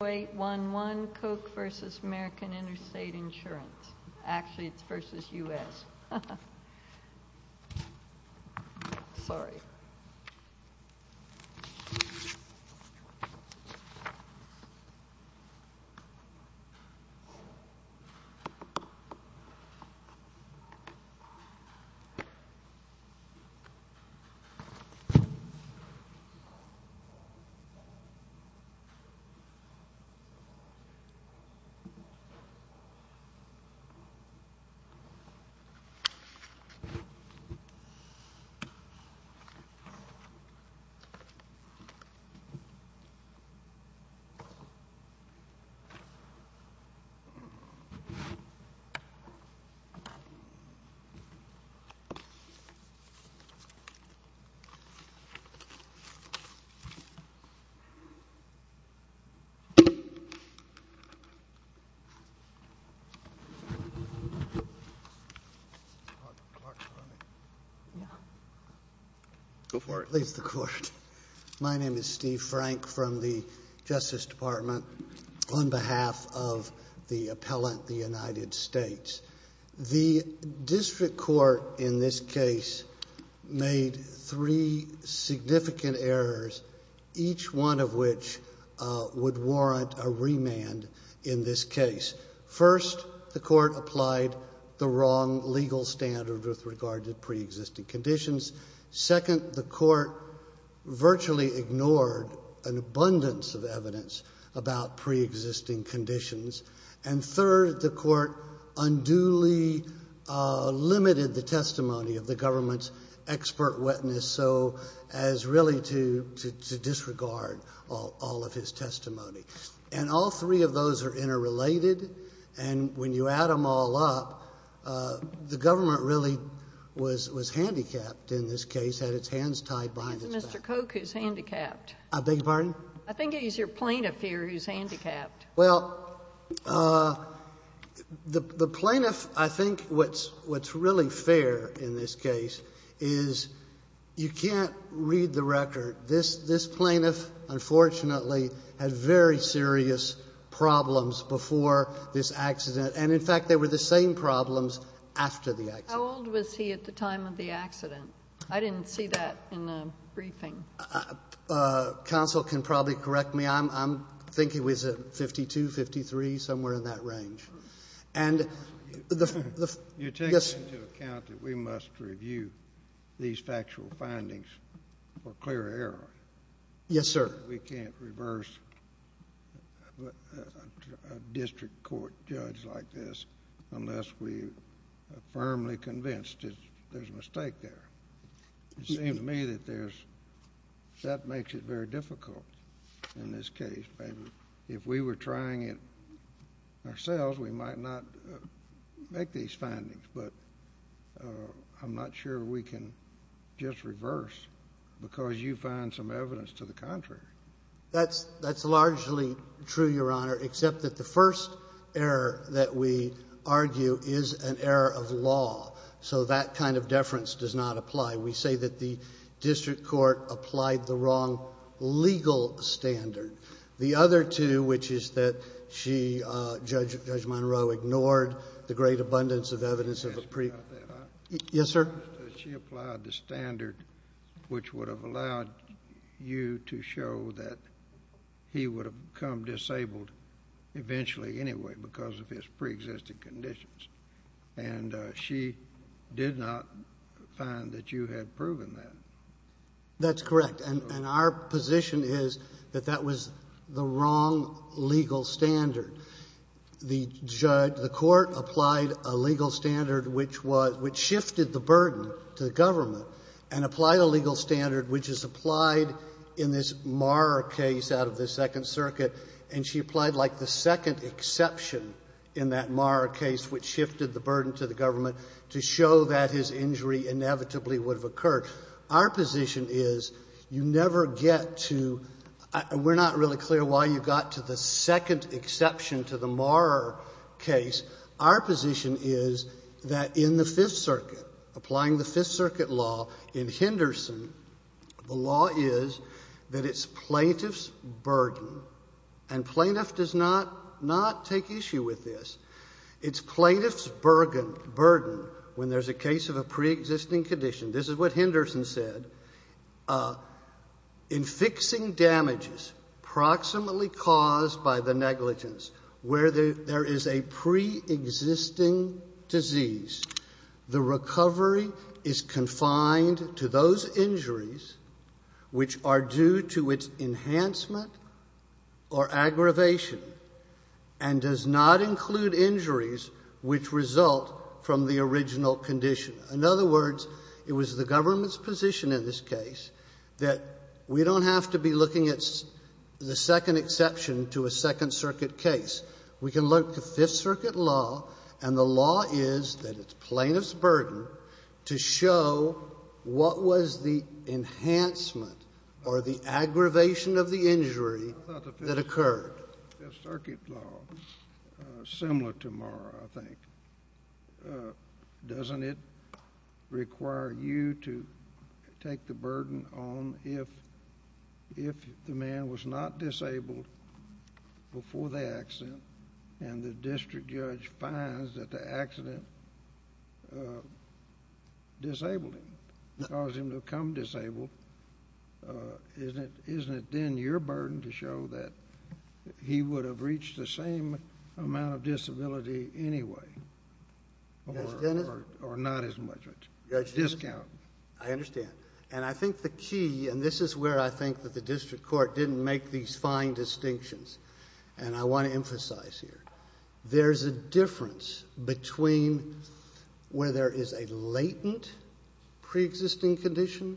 Koch v. American Interstate Insurance Actually, it's v. U.S. Sorry It's v. U.S. My name is Steve Frank from the Justice Department on behalf of the appellant the United States. The district court in this case made three significant errors, each one of which would warrant a remand in this case. First, the court applied the wrong legal standard with regard to pre-existing conditions. Second, the court virtually ignored an abundance of evidence about pre-existing conditions. And third, the court unduly limited the testimony of the government's expert witness so as really to disregard all of his testimony. And all three of those are interrelated. And when you add them all up, the government really was handicapped in this case, had its hands tied behind its back. It's Mr. Koch who's handicapped. I beg your pardon? I think it is your plaintiff here who's handicapped. Well, the plaintiff, I think what's really fair in this case is you can't read the record. This plaintiff, unfortunately, had very serious problems before this accident. And, in fact, they were the same problems after the accident. How old was he at the time of the accident? I didn't see that in the briefing. Counsel can probably correct me. I think he was 52, 53, somewhere in that range. You're taking into account that we must review these factual findings for clear error. Yes, sir. We can't reverse a district court judge like this unless we are firmly convinced that there's a mistake there. It seems to me that that makes it very difficult in this case. If we were trying it ourselves, we might not make these findings. But I'm not sure we can just reverse because you find some evidence to the contrary. That's largely true, Your Honor, except that the first error that we argue is an error of law. So that kind of deference does not apply. We say that the district court applied the wrong legal standard. The other two, which is that Judge Monroe ignored the great abundance of evidence of a pre- Yes, sir. She applied the standard which would have allowed you to show that he would have become disabled eventually anyway because of his preexisting conditions. And she did not find that you had proven that. That's correct. And our position is that that was the wrong legal standard. The court applied a legal standard which shifted the burden to the government and applied a legal standard which is applied in this Marra case out of the Second Circuit, and she applied like the second exception in that Marra case which shifted the burden to the government to show that his injury inevitably would have occurred. Our position is you never get to we're not really clear why you got to the second exception to the Marra case. Our position is that in the Fifth Circuit, applying the Fifth Circuit law in Henderson, the law is that it's plaintiff's burden, and plaintiff does not take issue with this, it's plaintiff's burden when there's a case of a preexisting condition. This is what Henderson said. In fixing damages proximately caused by the negligence where there is a preexisting disease, the recovery is confined to those injuries which are due to its enhancement or aggravation and does not include injuries which result from the original condition. In other words, it was the government's position in this case that we don't have to be looking at the second exception to a Second Circuit case. We can look to Fifth Circuit law, and the law is that it's plaintiff's burden to show what was the enhancement or the aggravation of the injury that occurred. The Fifth Circuit law is similar to Marra, I think. Doesn't it require you to take the burden on if the man was not disabled before the accident and the district judge finds that the accident disabled him, caused him to become disabled, isn't it then your burden to show that he would have reached the same amount of disability anyway? Or not as much. Discount. I understand. I think the key, and this is where I think the district court didn't make these fine distinctions, and I want to emphasize here. There's a difference between where there is a latent preexisting condition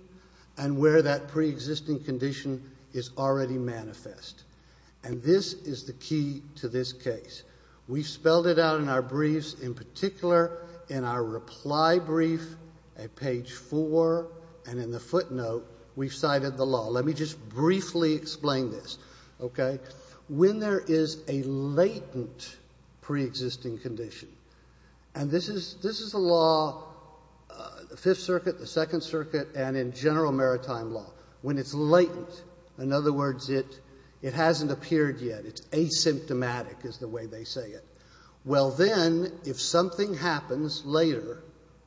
and where that preexisting condition is already manifest. And this is the key to this case. We spelled it out in our briefs, in particular in our reply brief at page four, and in the footnote we cited the law. Let me just briefly explain this. When there is a latent preexisting condition, and this is the law, the Fifth Circuit, the Second Circuit, and in general maritime law. When it's latent, in other words, it hasn't appeared yet. It's asymptomatic is the way they say it. Well then, if something happens later,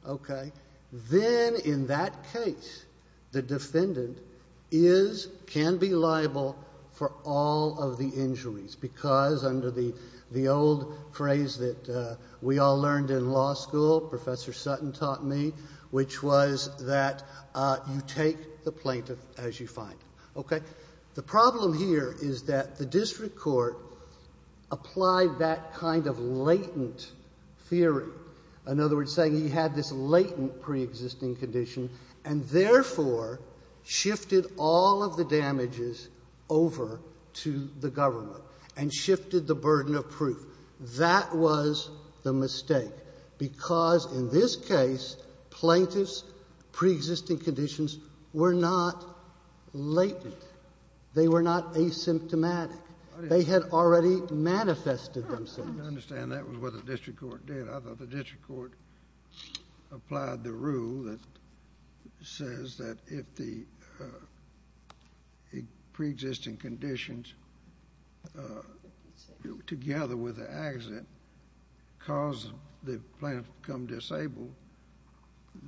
okay, then in that case the defendant is, can be liable for all of the injuries because under the old phrase that we all learned in law school, Professor Sutton taught me, which was that you take the plaintiff as you find him. Okay? The problem here is that the district court applied that kind of latent theory. In other words, saying he had this latent preexisting condition and therefore shifted all of the damages over to the government and shifted the burden of proof. That was the mistake because in this case plaintiffs' preexisting conditions were not latent. They were not asymptomatic. They had already manifested themselves. I understand that was what the district court did. I thought the district court applied the rule that says that if the preexisting conditions, together with the accident, caused the plaintiff to become disabled,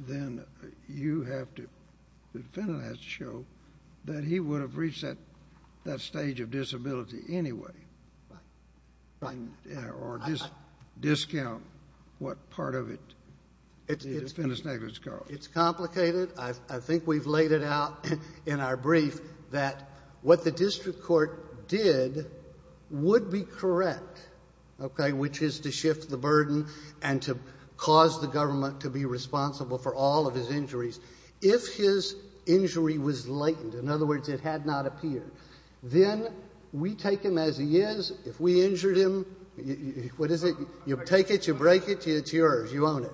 then you have to, the defendant has to show that he would have reached that stage of disability anyway. Right. Or discount what part of it the defendant's negligence covers. It's complicated. I think we've laid it out in our brief that what the district court did would be correct, okay, which is to shift the burden and to cause the government to be responsible for all of his injuries. If his injury was latent, in other words, it had not appeared, then we take him as he is. If we injured him, what is it? You take it. You break it. It's yours. You own it.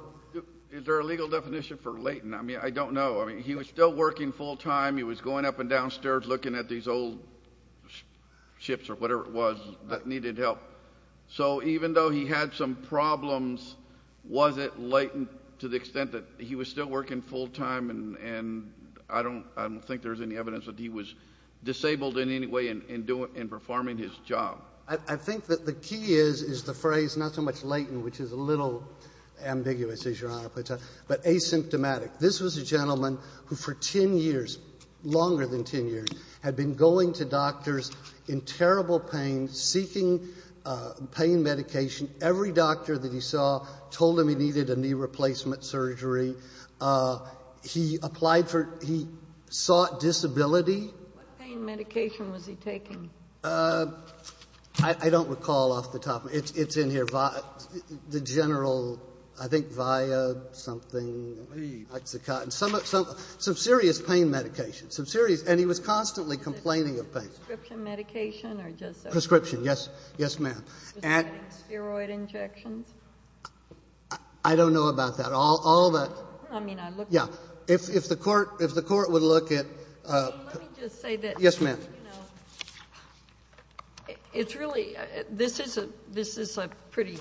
Is there a legal definition for latent? I mean, I don't know. I mean, he was still working full time. He was going up and downstairs looking at these old ships or whatever it was that needed help. So even though he had some problems, was it latent to the extent that he was still working full time and I don't think there's any evidence that he was disabled in any way in performing his job? I think that the key is is the phrase not so much latent, which is a little ambiguous, as Your Honor puts it, but asymptomatic. This was a gentleman who for 10 years, longer than 10 years, had been going to doctors in terrible pain, seeking pain medication. Every doctor that he saw told him he needed a knee replacement surgery. He applied for he sought disability. What pain medication was he taking? I don't recall off the top of my head. It's in here. The general, I think VIA something. Some serious pain medication. Some serious. And he was constantly complaining of pain. Prescription medication? Prescription. Yes. Yes, ma'am. Steroid injections? I don't know about that. All that. I mean, I look at. Yeah. If the court would look at. Let me just say that. Yes, ma'am. It's really, this is a pretty,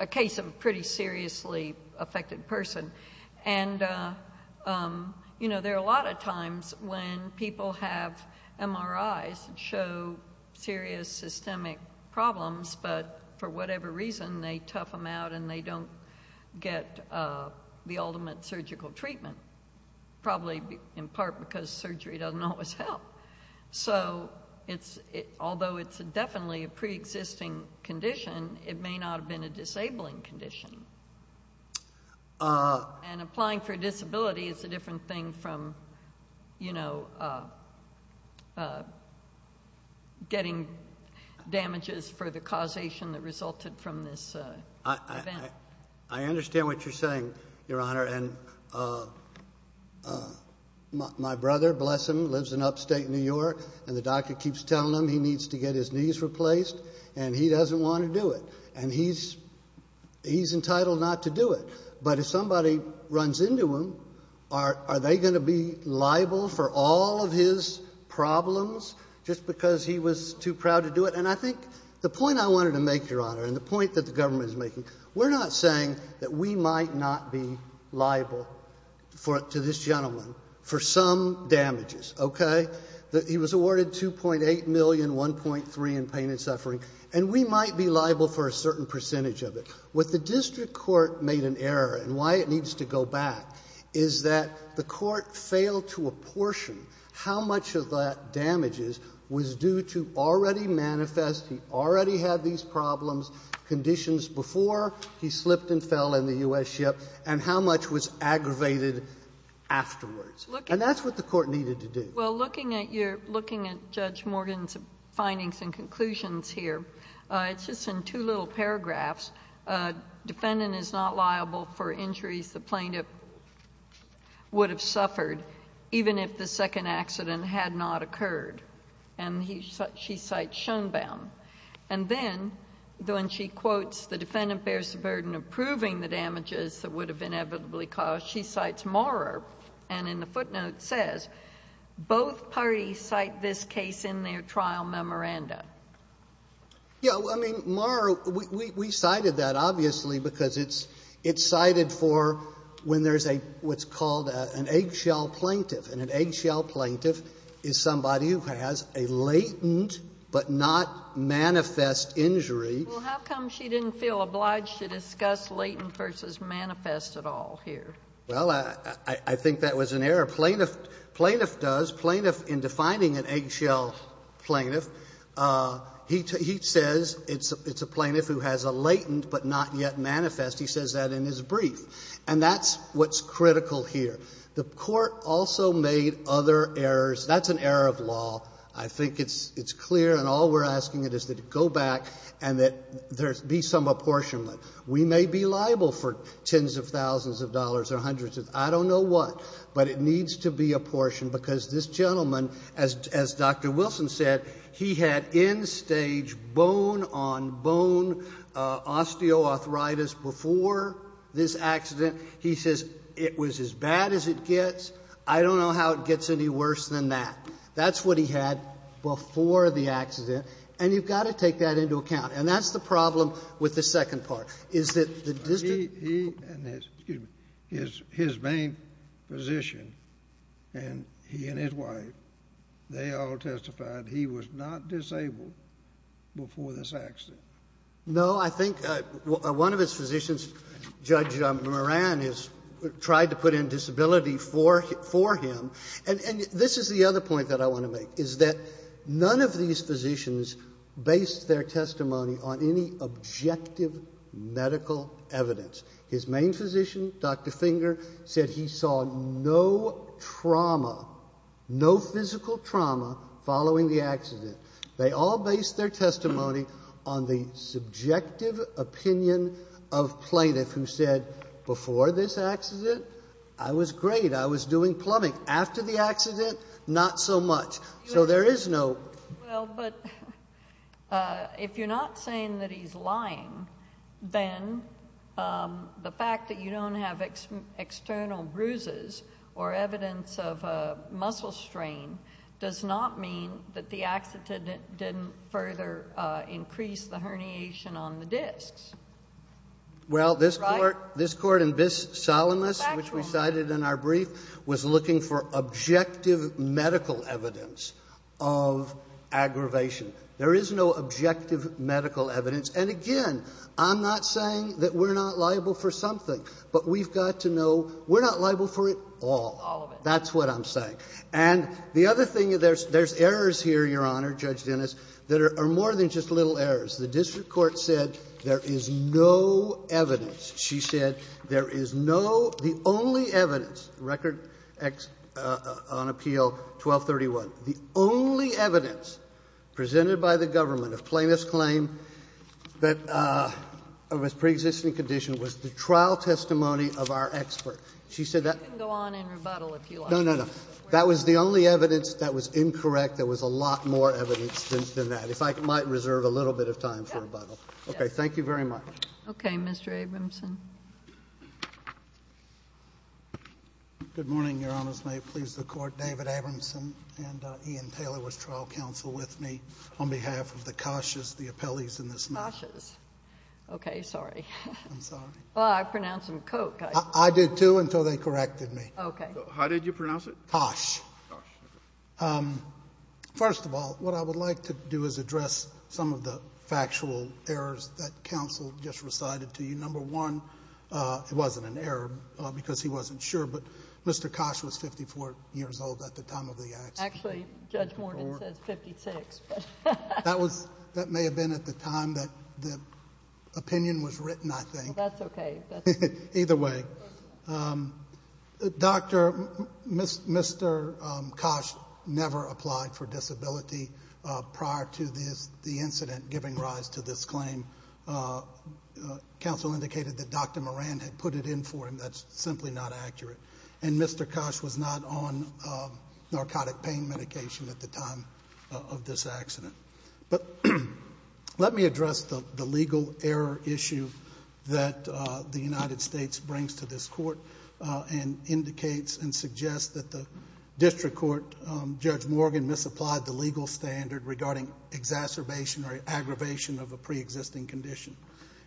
a case of a pretty seriously affected person. And, you know, there are a lot of times when people have MRIs that show serious systemic problems, but for whatever reason, they tough them out and they don't get the ultimate surgical treatment. Probably in part because surgery doesn't always help. So, although it's definitely a preexisting condition, it may not have been a disabling condition. And applying for a disability is a different thing from, you know, getting damages for the causation that resulted from this event. I understand what you're saying, Your Honor. And my brother, bless him, lives in upstate New York, and the doctor keeps telling him he needs to get his knees replaced, and he doesn't want to do it. And he's entitled not to do it. But if somebody runs into him, are they going to be liable for all of his problems just because he was too proud to do it? And I think the point I wanted to make, Your Honor, and the point that the government is making, we're not saying that we might not be liable to this gentleman for some damages, okay? He was awarded $2.8 million, $1.3 million in pain and suffering, and we might be liable for a certain percentage of it. What the district court made an error, and why it needs to go back, is that the court failed to apportion how much of that damages was due to already manifest, he already had these problems, conditions before he slipped and fell in the U.S. ship, and how much was aggravated afterwards. And that's what the court needed to do. Well, looking at Judge Morgan's findings and conclusions here, it's just in two little paragraphs. Defendant is not liable for injuries the plaintiff would have suffered even if the second accident had not occurred. And she cites Schoenbaum. And then when she quotes the defendant bears the burden of proving the damages that would have inevitably caused, she cites Maurer. And in the footnote it says, both parties cite this case in their trial memoranda. Yeah. I mean, Maurer, we cited that, obviously, because it's cited for when there's a, what's called an eggshell plaintiff. And an eggshell plaintiff is somebody who has a latent but not manifest injury. Well, how come she didn't feel obliged to discuss latent versus manifest at all here? Well, I think that was an error. Plaintiff does. Plaintiff, in defining an eggshell plaintiff, he says it's a plaintiff who has a latent but not yet manifest. He says that in his brief. And that's what's critical here. The court also made other errors. That's an error of law. I think it's clear, and all we're asking is that it go back and that there be some apportionment. We may be liable for tens of thousands of dollars or hundreds of, I don't know what, but it needs to be apportioned, because this gentleman, as Dr. Wilson said, he had in stage bone-on-bone osteoarthritis before this accident. He says it was as bad as it gets. I don't know how it gets any worse than that. That's what he had before the accident, and you've got to take that into account. And that's the problem with the second part, is that the district He and his main physician and he and his wife, they all testified he was not disabled before this accident. No, I think one of his physicians, Judge Moran, has tried to put in disability for him. And this is the other point that I want to make, is that none of these physicians based their testimony on any objective medical evidence. His main physician, Dr. Finger, said he saw no trauma, no physical trauma following the accident. They all based their testimony on the subjective opinion of plaintiff who said before this accident, I was great. I was doing plumbing. After the accident, not so much. So there is no Well, but if you're not saying that he's lying, then the fact that you don't have external bruises or evidence of muscle strain does not mean that the accident didn't further increase the herniation on the discs. Well, this Court in Biss, Solomus, which we cited in our brief, was looking for objective medical evidence of aggravation. There is no objective medical evidence. And again, I'm not saying that we're not liable for something. But we've got to know we're not liable for it all. All of it. That's what I'm saying. And the other thing, there's errors here, Your Honor, Judge Dennis, that are more than just little errors. The district court said there is no evidence. She said there is no the only evidence, record on appeal 1231, the only evidence presented by the government of plaintiff's claim that was preexisting condition was the trial testimony of our expert. She said that You can go on and rebuttal if you like. No, no, no. That was the only evidence that was incorrect. There was a lot more evidence than that. If I might reserve a little bit of time for rebuttal. Yes. Okay. Thank you very much. Okay. Mr. Abramson. Good morning, Your Honors. May it please the Court. David Abramson and Ian Taylor with trial counsel with me on behalf of the Koshas, the appellees in this matter. Koshas. Okay. Sorry. I'm sorry. Well, I pronounced them Koch. I did, too, until they corrected me. Okay. How did you pronounce it? Kosh. Kosh. Well, first of all, what I would like to do is address some of the factual errors that counsel just recited to you. Number one, it wasn't an error because he wasn't sure, but Mr. Koch was 54 years old at the time of the accident. Actually, Judge Morgan says 56. That may have been at the time that the opinion was written, I think. That's okay. Either way. Mr. Koch never applied for disability prior to the incident giving rise to this claim. Counsel indicated that Dr. Moran had put it in for him. That's simply not accurate. And Mr. Koch was not on narcotic pain medication at the time of this accident. Let me address the legal error issue that the United States brings to this court and indicates and suggests that the district court, Judge Morgan, misapplied the legal standard regarding exacerbation or aggravation of a preexisting condition.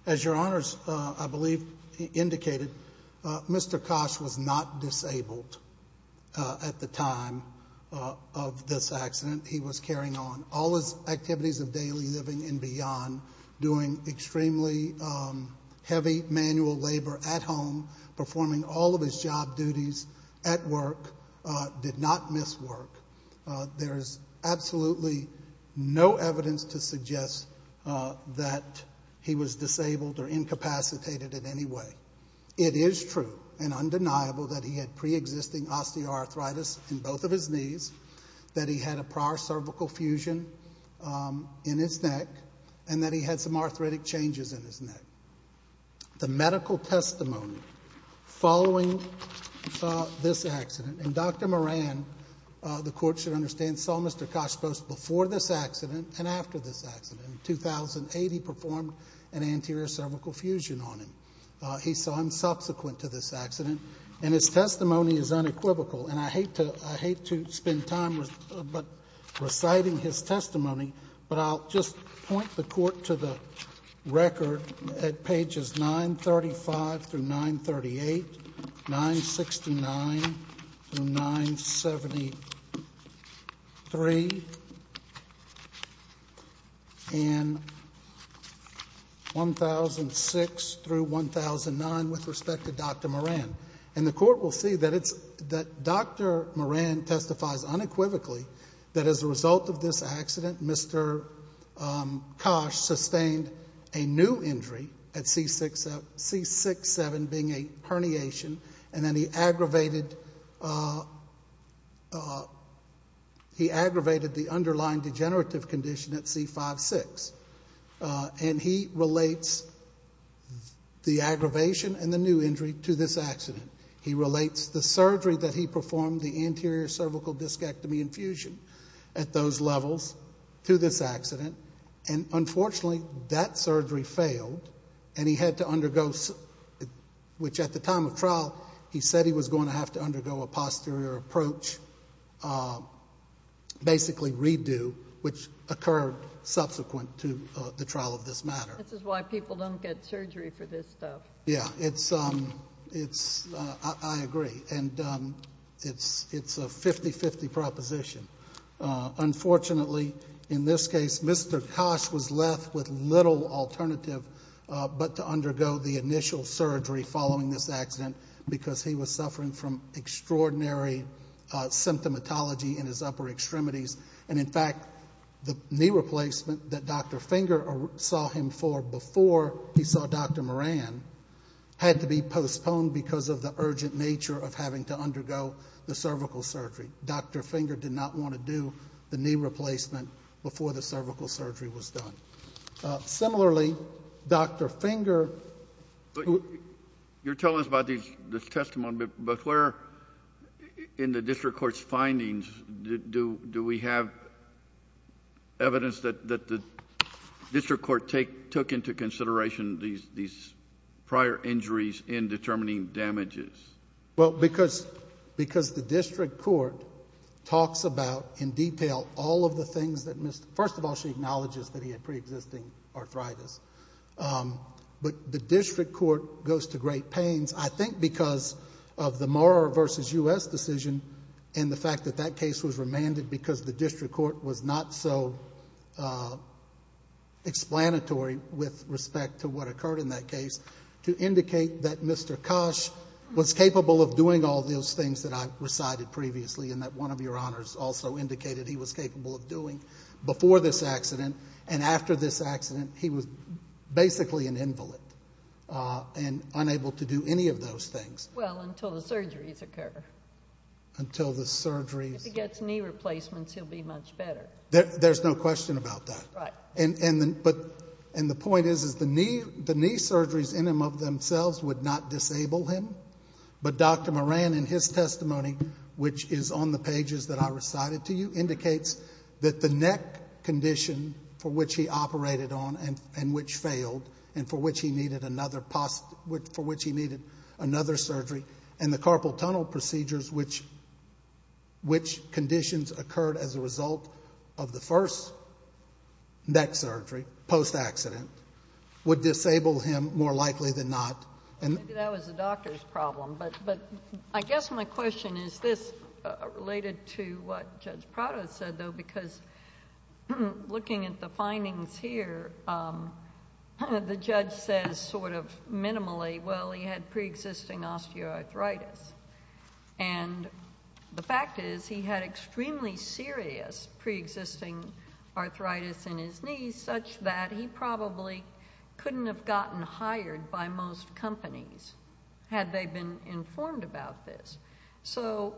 As your honors, I believe, indicated, Mr. Koch was not disabled at the time of this accident. He was carrying on. All his activities of daily living and beyond, doing extremely heavy manual labor at home, performing all of his job duties at work, did not miss work. There is absolutely no evidence to suggest that he was disabled or incapacitated in any way. It is true and undeniable that he had preexisting osteoarthritis in both of his knees, that he had a prior cervical fusion in his neck, and that he had some arthritic changes in his neck. The medical testimony following this accident, and Dr. Moran, the court should understand, saw Mr. Koch both before this accident and after this accident. In 2008, he performed an anterior cervical fusion on him. He saw him subsequent to this accident. And his testimony is unequivocal, and I hate to spend time reciting his testimony, but I'll just point the court to the record at pages 935 through 938, 969 through 973, and 1006 through 1009 with respect to Dr. Moran. And the court will see that Dr. Moran testifies unequivocally that as a result of this accident, Mr. Koch sustained a new injury at C6-7 being a herniation, and then he aggravated the underlying degenerative condition at C5-6. And he relates the aggravation and the new injury to this accident. He relates the surgery that he performed, the anterior cervical discectomy infusion, at those levels to this accident. And unfortunately, that surgery failed, and he had to undergo, which at the time of trial, he said he was going to have to undergo a posterior approach, basically a redo, which occurred subsequent to the trial of this matter. This is why people don't get surgery for this stuff. Yeah, I agree. And it's a 50-50 proposition. Unfortunately, in this case, Mr. Koch was left with little alternative but to undergo the initial surgery following this accident because he was suffering from extraordinary symptomatology in his upper extremities. And, in fact, the knee replacement that Dr. Finger saw him for before he saw Dr. Moran had to be postponed because of the urgent nature of having to undergo the cervical surgery. Dr. Finger did not want to do the knee replacement before the cervical surgery was done. Similarly, Dr. Finger, who... According to the District Court's findings, do we have evidence that the District Court took into consideration these prior injuries in determining damages? Well, because the District Court talks about in detail all of the things that Mr.... First of all, she acknowledges that he had pre-existing arthritis. But the District Court goes to great pains, I think, because of the Mora v. U.S. decision and the fact that that case was remanded because the District Court was not so explanatory with respect to what occurred in that case, to indicate that Mr. Koch was capable of doing all those things that I recited previously and that one of your honors also indicated he was capable of doing before this accident and after this accident. He was basically an invalid and unable to do any of those things. Well, until the surgeries occur. Until the surgeries. If he gets knee replacements, he'll be much better. There's no question about that. Right. And the point is the knee surgeries in and of themselves would not disable him. But Dr. Moran, in his testimony, which is on the pages that I recited to you, indicates that the neck condition for which he operated on and which failed and for which he needed another surgery and the carpal tunnel procedures which conditions occurred as a result of the first neck surgery post-accident would disable him more likely than not. Maybe that was the doctor's problem. But I guess my question is this related to what Judge Prado said, though, because looking at the findings here, the judge says sort of minimally, well, he had preexisting osteoarthritis. And the fact is he had extremely serious preexisting arthritis in his knees such that he probably couldn't have gotten hired by most companies had they been informed about this. So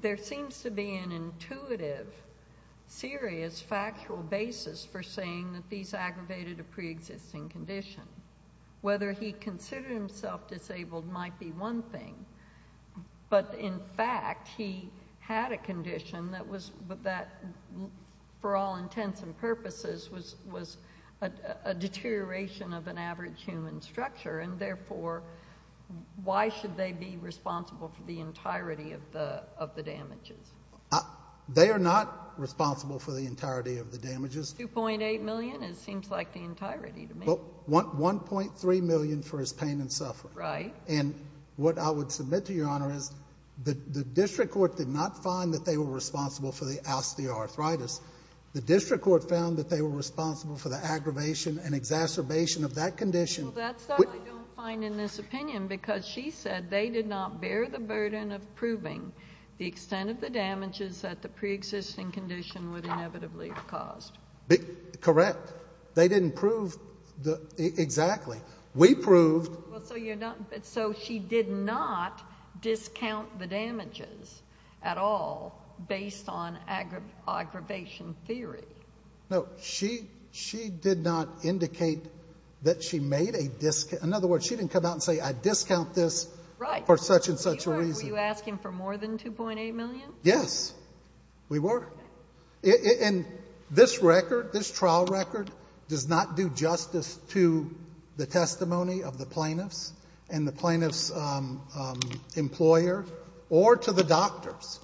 there seems to be an intuitive, serious, factual basis for saying that these aggravated a preexisting condition. Whether he considered himself disabled might be one thing, but in fact he had a condition that, for all intents and purposes, was a deterioration of an average human structure, and therefore why should they be responsible for the entirety of the damages? They are not responsible for the entirety of the damages. $2.8 million, it seems like the entirety to me. $1.3 million for his pain and suffering. Right. And what I would submit to Your Honor is the district court did not find that they were responsible for the osteoarthritis. The district court found that they were responsible for the aggravation and exacerbation of that condition. Well, that's what I don't find in this opinion because she said they did not bear the burden of proving the extent of the damages that the preexisting condition would inevitably have caused. Correct. They didn't prove exactly. We proved. So she did not discount the damages at all based on aggravation theory. No, she did not indicate that she made a discount. In other words, she didn't come out and say, I discount this for such and such a reason. Were you asking for more than $2.8 million? Yes, we were. And this record, this trial record, does not do justice to the testimony of the plaintiffs and the plaintiffs' employer or to the doctors.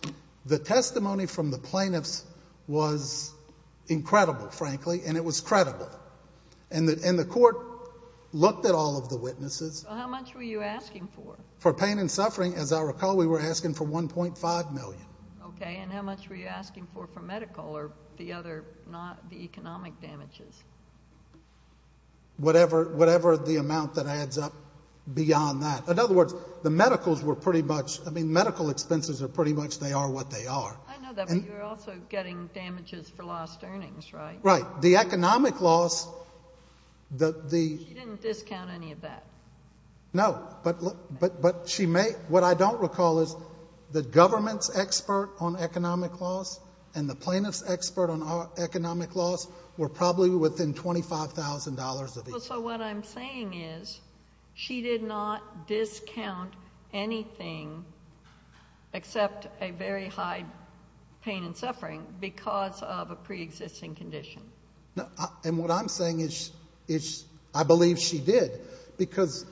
The testimony from the plaintiffs was incredible, frankly, and it was credible. And the court looked at all of the witnesses. How much were you asking for? For pain and suffering, as I recall, we were asking for $1.5 million. Okay, and how much were you asking for for medical or the other economic damages? Whatever the amount that adds up beyond that. In other words, the medicals were pretty much, I mean, medical expenses are pretty much they are what they are. I know that, but you're also getting damages for lost earnings, right? Right. The economic loss, the... She didn't discount any of that. No, but she may. What I don't recall is the government's expert on economic loss and the plaintiff's expert on economic loss were probably within $25,000. So what I'm saying is she did not discount anything except a very high pain and suffering because of a preexisting condition. And what I'm saying is I believe she did. Because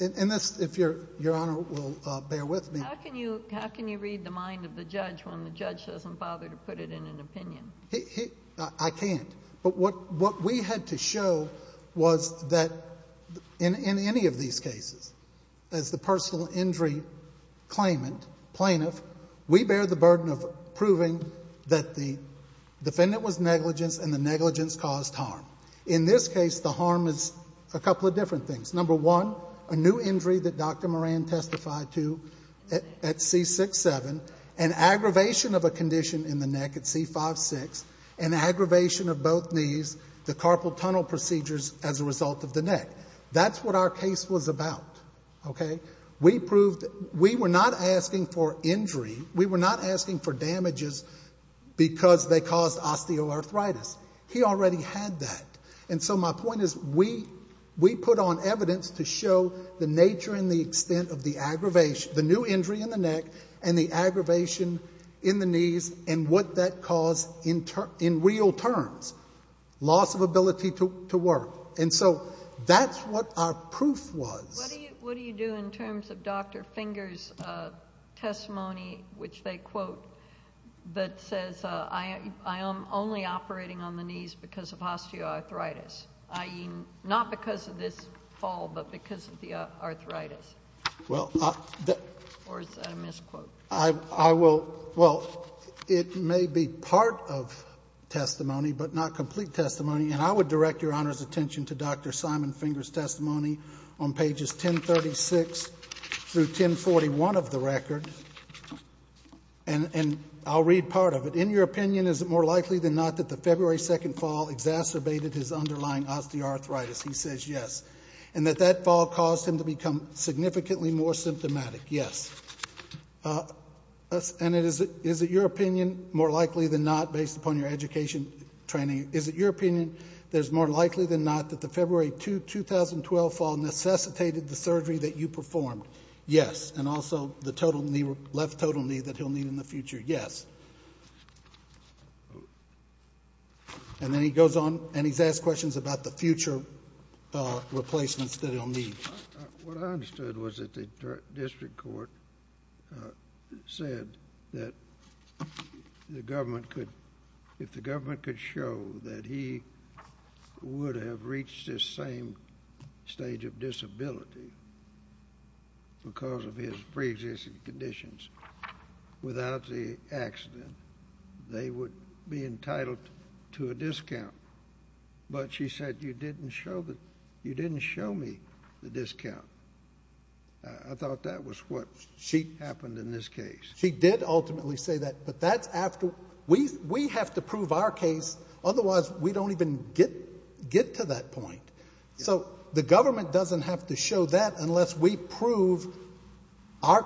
in this, if Your Honor will bear with me. How can you read the mind of the judge when the judge doesn't bother to put it in an opinion? I can't. But what we had to show was that in any of these cases, as the personal injury claimant, plaintiff, we bear the burden of proving that the defendant was negligent and the negligence caused harm. In this case, the harm is a couple of different things. Number one, a new injury that Dr. Moran testified to at C6-7, an aggravation of a condition in the neck at C5-6, an aggravation of both knees, the carpal tunnel procedures as a result of the neck. That's what our case was about, okay? We were not asking for injury. We were not asking for damages because they caused osteoarthritis. He already had that. And so my point is we put on evidence to show the nature and the extent of the new injury in the neck and the aggravation in the knees and what that caused in real terms, loss of ability to work. And so that's what our proof was. What do you do in terms of Dr. Finger's testimony, which they quote, that says I am only operating on the knees because of osteoarthritis, i.e., not because of this fall but because of the arthritis? Or is that a misquote? Well, it may be part of testimony but not complete testimony. And I would direct Your Honor's attention to Dr. Simon Finger's testimony on pages 1036 through 1041 of the record. And I'll read part of it. In your opinion, is it more likely than not that the February 2nd fall exacerbated his underlying osteoarthritis? He says yes. And that that fall caused him to become significantly more symptomatic? Yes. And is it your opinion, more likely than not, based upon your education training, is it your opinion that it's more likely than not that the February 2, 2012 fall necessitated the surgery that you performed? Yes. And also the left total knee that he'll need in the future? Yes. And then he goes on and he's asked questions about the future replacements that he'll need. What I understood was that the district court said that the government could, if the government could show that he would have reached this same stage of disability because of his preexisting conditions without the accident, they would be entitled to a discount. But she said, you didn't show me the discount. I thought that was what happened in this case. She did ultimately say that, but that's after we have to prove our case, otherwise we don't even get to that point. So the government doesn't have to show that unless we prove our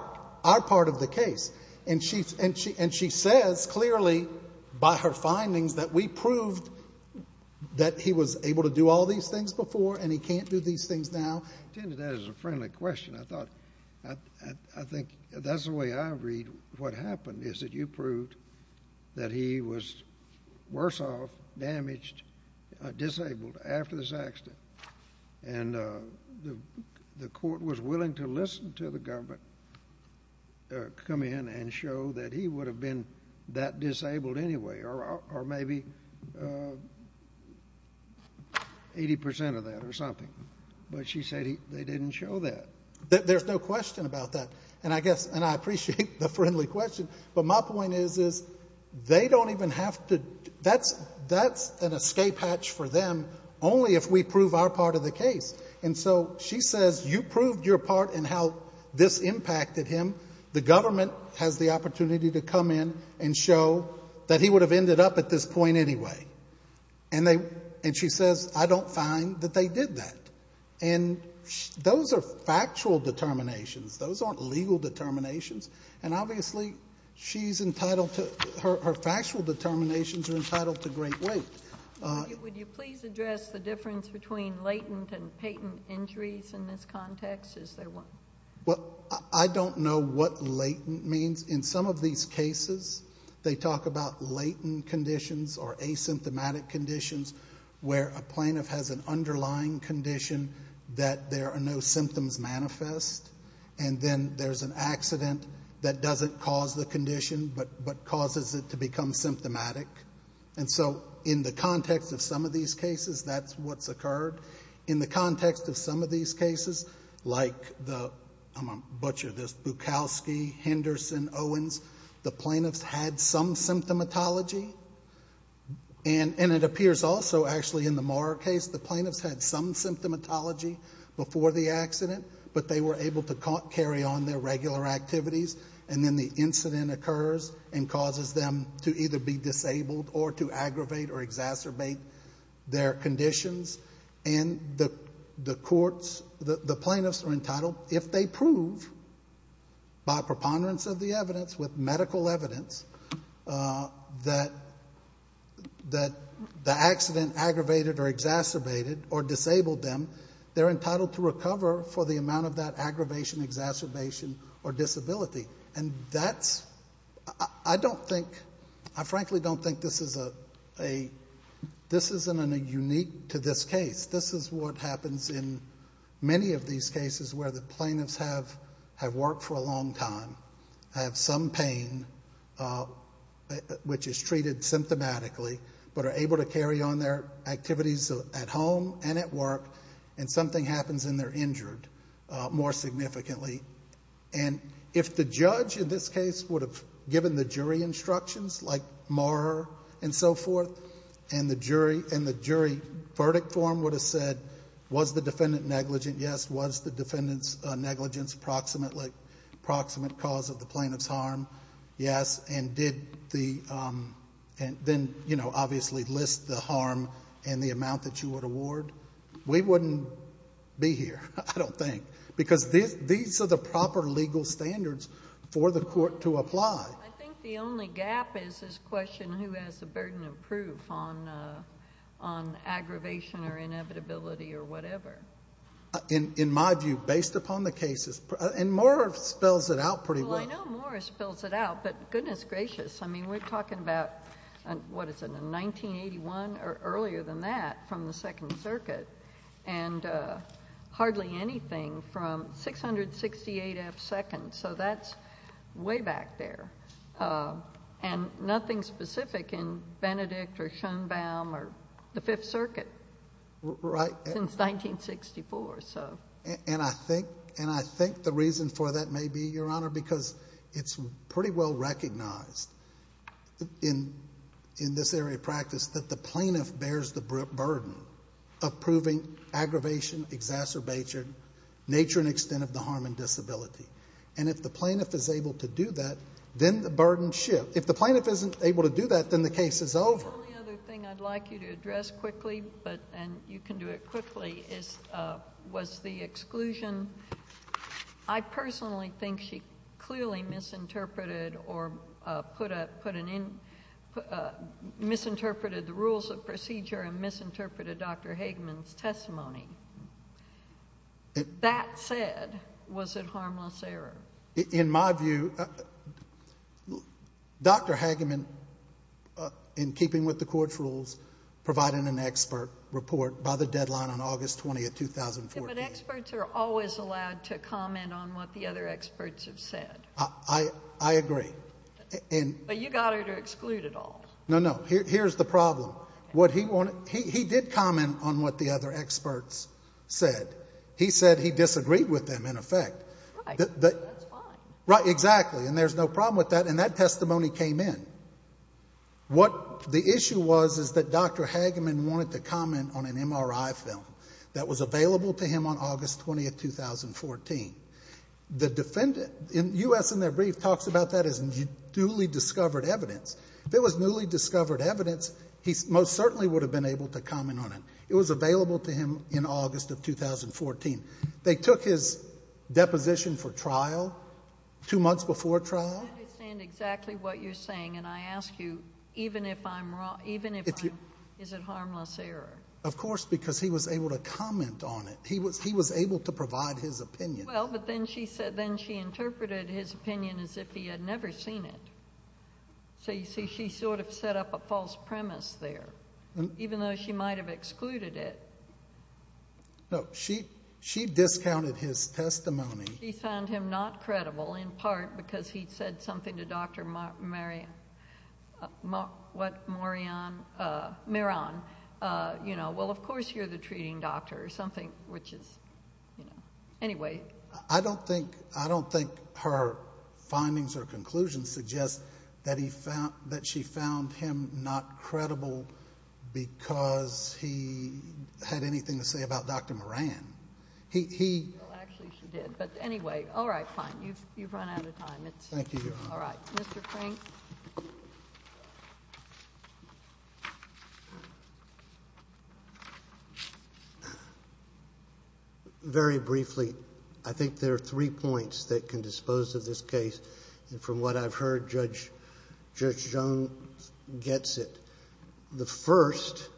part of the case. And she says, clearly, by her findings, that we proved that he was able to do all these things before and he can't do these things now. That is a friendly question. I think that's the way I read what happened, is that you proved that he was worse off, damaged, disabled after this accident. And the court was willing to listen to the government come in and show that he would have been that disabled anyway, or maybe 80% of that or something. But she said they didn't show that. There's no question about that. And I guess, and I appreciate the friendly question, but my point is they don't even have to, that's an escape hatch for them only if we prove our part of the case. And so she says, you proved your part in how this impacted him. The government has the opportunity to come in and show that he would have ended up at this point anyway. And she says, I don't find that they did that. And those are factual determinations. Those aren't legal determinations. And obviously she's entitled to, her factual determinations are entitled to great weight. Would you please address the difference between latent and patent injuries in this context? Well, I don't know what latent means. In some of these cases, they talk about latent conditions or asymptomatic conditions where a plaintiff has an underlying condition that there are no symptoms manifest. And then there's an accident that doesn't cause the condition but causes it to become symptomatic. And so in the context of some of these cases, that's what's occurred. In the context of some of these cases, like the, I'm going to butcher this, Bukowski, Henderson, Owens, the plaintiffs had some symptomatology. And it appears also actually in the Maurer case the plaintiffs had some symptomatology before the accident, but they were able to carry on their regular activities. And then the incident occurs and causes them to either be disabled or to aggravate or exacerbate their conditions. And the courts, the plaintiffs are entitled, if they prove by preponderance of the evidence, with medical evidence, that the accident aggravated or exacerbated or disabled them, they're entitled to recover for the amount of that aggravation, exacerbation, or disability. And that's, I don't think, I frankly don't think this is a, this isn't unique to this case. This is what happens in many of these cases where the plaintiffs have worked for a long time, have some pain, which is treated symptomatically, but are able to carry on their activities at home and at work, and something happens and they're injured more significantly. And if the judge in this case would have given the jury instructions, like Maurer and so forth, and the jury verdict form would have said, was the defendant negligent, yes, was the defendant's negligence proximate cause of the plaintiff's harm, yes, and did the, and then, you know, obviously list the harm and the amount that you would award, we wouldn't be here, I don't think, because these are the proper legal standards for the court to apply. I think the only gap is this question, who has the burden of proof on aggravation or inevitability or whatever. In my view, based upon the cases, and Maurer spells it out pretty well. Well, I know Maurer spells it out, but goodness gracious, I mean, we're talking about, what is it, 1981 or earlier than that from the Second Circuit, and hardly anything from 668 F. Seconds, so that's way back there, and nothing specific in Benedict or Schoenbaum or the Fifth Circuit since 1964. And I think the reason for that may be, Your Honor, because it's pretty well recognized in this area of practice that the plaintiff bears the burden of proving aggravation, exacerbation, nature and extent of the harm and disability, and if the plaintiff is able to do that, then the burden shifts. If the plaintiff isn't able to do that, then the case is over. The only other thing I'd like you to address quickly, and you can do it quickly, was the exclusion. I personally think she clearly misinterpreted the rules of procedure and misinterpreted Dr. Hageman's testimony. That said, was it harmless error? In my view, Dr. Hageman, in keeping with the court's rules, provided an expert report by the deadline on August 20, 2014. But experts are always allowed to comment on what the other experts have said. I agree. But you got her to exclude it all. No, no. Here's the problem. He did comment on what the other experts said. He said he disagreed with them, in effect. Right. That's fine. Right, exactly, and there's no problem with that. And that testimony came in. What the issue was is that Dr. Hageman wanted to comment on an MRI film that was available to him on August 20, 2014. The defendant, U.S. in their brief, talks about that as newly discovered evidence. If it was newly discovered evidence, he most certainly would have been able to comment on it. It was available to him in August of 2014. They took his deposition for trial two months before trial. I don't understand exactly what you're saying, and I ask you, even if I'm wrong, even if I'm wrong, is it harmless error? Of course, because he was able to comment on it. He was able to provide his opinion. Well, but then she interpreted his opinion as if he had never seen it. So you see, she sort of set up a false premise there, even though she might have excluded it. No, she discounted his testimony. She found him not credible, in part because he'd said something to Dr. Maran. Well, of course you're the treating doctor, or something, which is, you know. Anyway. I don't think her findings or conclusions suggest that she found him not credible because he had anything to say about Dr. Maran. Well, actually she did, but anyway. All right, fine. You've run out of time. Thank you, Your Honor. All right. Mr. Crank? Very briefly, I think there are three points that can dispose of this case. And from what I've heard, Judge Jones gets it. The first,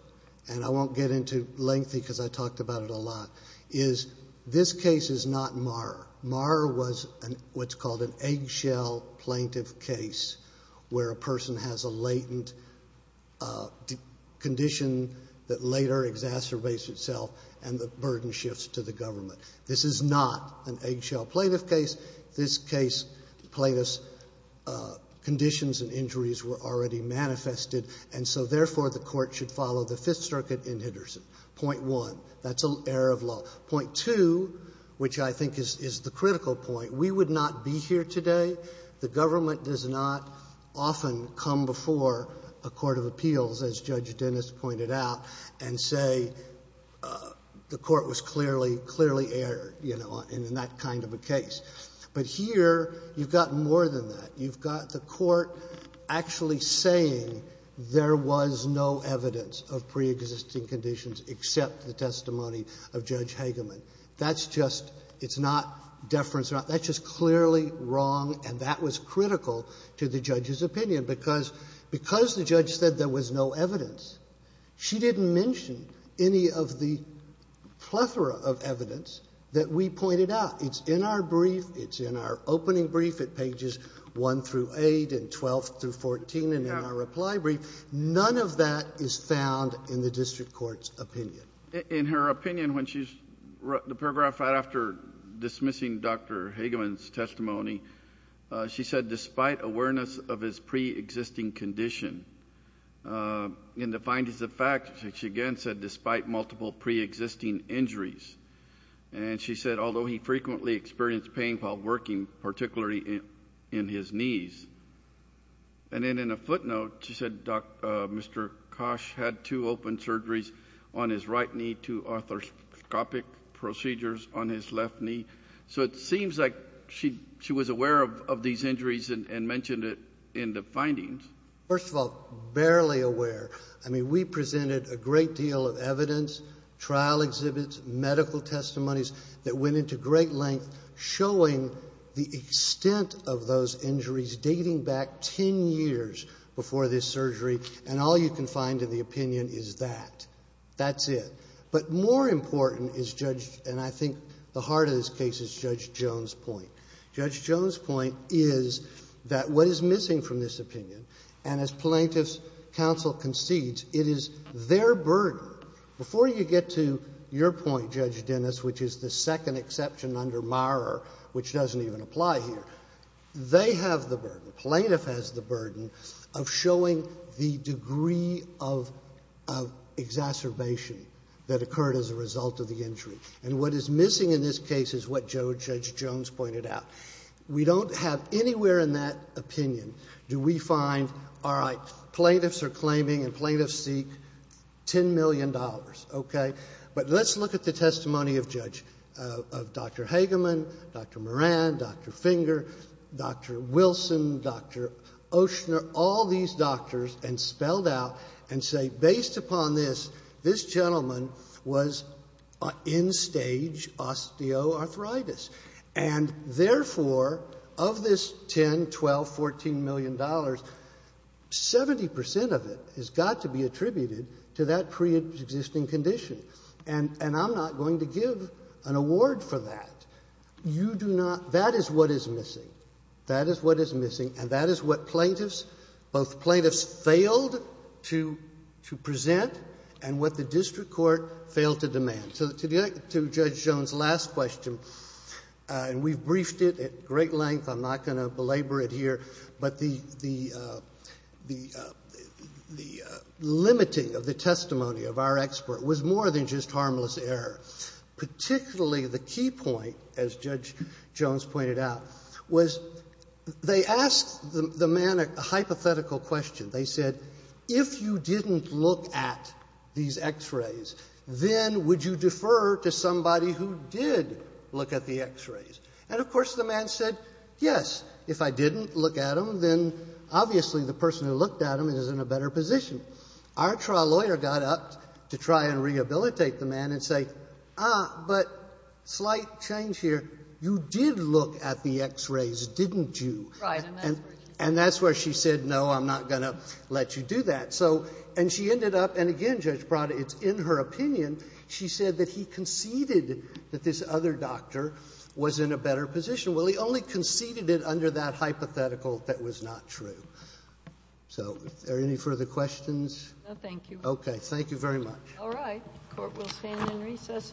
and I won't get into lengthy because I talked about it a lot, is this case is not Marr. Marr was what's called an eggshell plaintiff case, where a person has a latent condition that later exacerbates itself and the burden shifts to the government. This is not an eggshell plaintiff case. This case plaintiff's conditions and injuries were already manifested, and so therefore the court should follow the Fifth Circuit in Henderson. Point one. That's an error of law. Point two, which I think is the critical point, we would not be here today. The government does not often come before a court of appeals, as Judge Dennis pointed out, and say the court was clearly, clearly errored, you know, in that kind of a case. But here you've got more than that. You've got the court actually saying there was no evidence of preexisting conditions except the testimony of Judge Hageman. That's just — it's not deference. That's just clearly wrong, and that was critical to the judge's opinion, because the judge said there was no evidence. She didn't mention any of the plethora of evidence that we pointed out. It's in our brief. It's in our opening brief at pages 1 through 8 and 12 through 14, and in our reply brief. None of that is found in the district court's opinion. In her opinion, when she wrote the paragraph right after dismissing Dr. Hageman's testimony, she said despite awareness of his preexisting condition, in the findings of fact, she again said despite multiple preexisting injuries. And she said although he frequently experienced pain while working, particularly in his knees. And then in a footnote, she said Mr. Kosh had two open surgeries on his right knee, two arthroscopic procedures on his left knee. So it seems like she was aware of these injuries and mentioned it in the findings. First of all, barely aware. I mean, we presented a great deal of evidence, trial exhibits, medical testimonies that went into great length showing the extent of those injuries dating back ten years before this surgery, and all you can find in the opinion is that. That's it. But more important is Judge, and I think the heart of this case, is Judge Jones' point. Judge Jones' point is that what is missing from this opinion, and as plaintiff's counsel concedes, it is their burden. Before you get to your point, Judge Dennis, which is the second exception under Maurer, which doesn't even apply here, they have the burden, plaintiff has the burden, of showing the degree of exacerbation that occurred as a result of the injury. And what is missing in this case is what Judge Jones pointed out. We don't have anywhere in that opinion, do we find, all right, plaintiffs are claiming and plaintiffs seek $10 million. Okay? But let's look at the testimony of Judge, of Dr. Hageman, Dr. Moran, Dr. Finger, Dr. Wilson, Dr. Oshner, all these doctors, and spelled out and say based upon this, this gentleman was in stage osteoarthritis. And therefore, of this $10, $12, $14 million, 70 percent of it has got to be attributed to that preexisting condition. And I'm not going to give an award for that. You do not. That is what is missing. That is what is missing. And that is what plaintiffs, both plaintiffs failed to present and what the district court failed to demand. So to Judge Jones' last question, and we've briefed it at great length. I'm not going to belabor it here. But the limiting of the testimony of our expert was more than just harmless error. Particularly the key point, as Judge Jones pointed out, was they asked the man a hypothetical question. They said, if you didn't look at these x-rays, then would you defer to somebody who did look at the x-rays? And, of course, the man said, yes, if I didn't look at them, then obviously the person who looked at them is in a better position. Our trial lawyer got up to try and rehabilitate the man and say, ah, but slight change here. You did look at the x-rays, didn't you? And that's where she said, no, I'm not going to. I'm not going to let you do that. And she ended up, and again, Judge Prada, it's in her opinion, she said that he conceded that this other doctor was in a better position. Well, he only conceded it under that hypothetical that was not true. So are there any further questions? No, thank you. Okay. Thank you very much. All right. The court will stand in recess until 12 o'clock.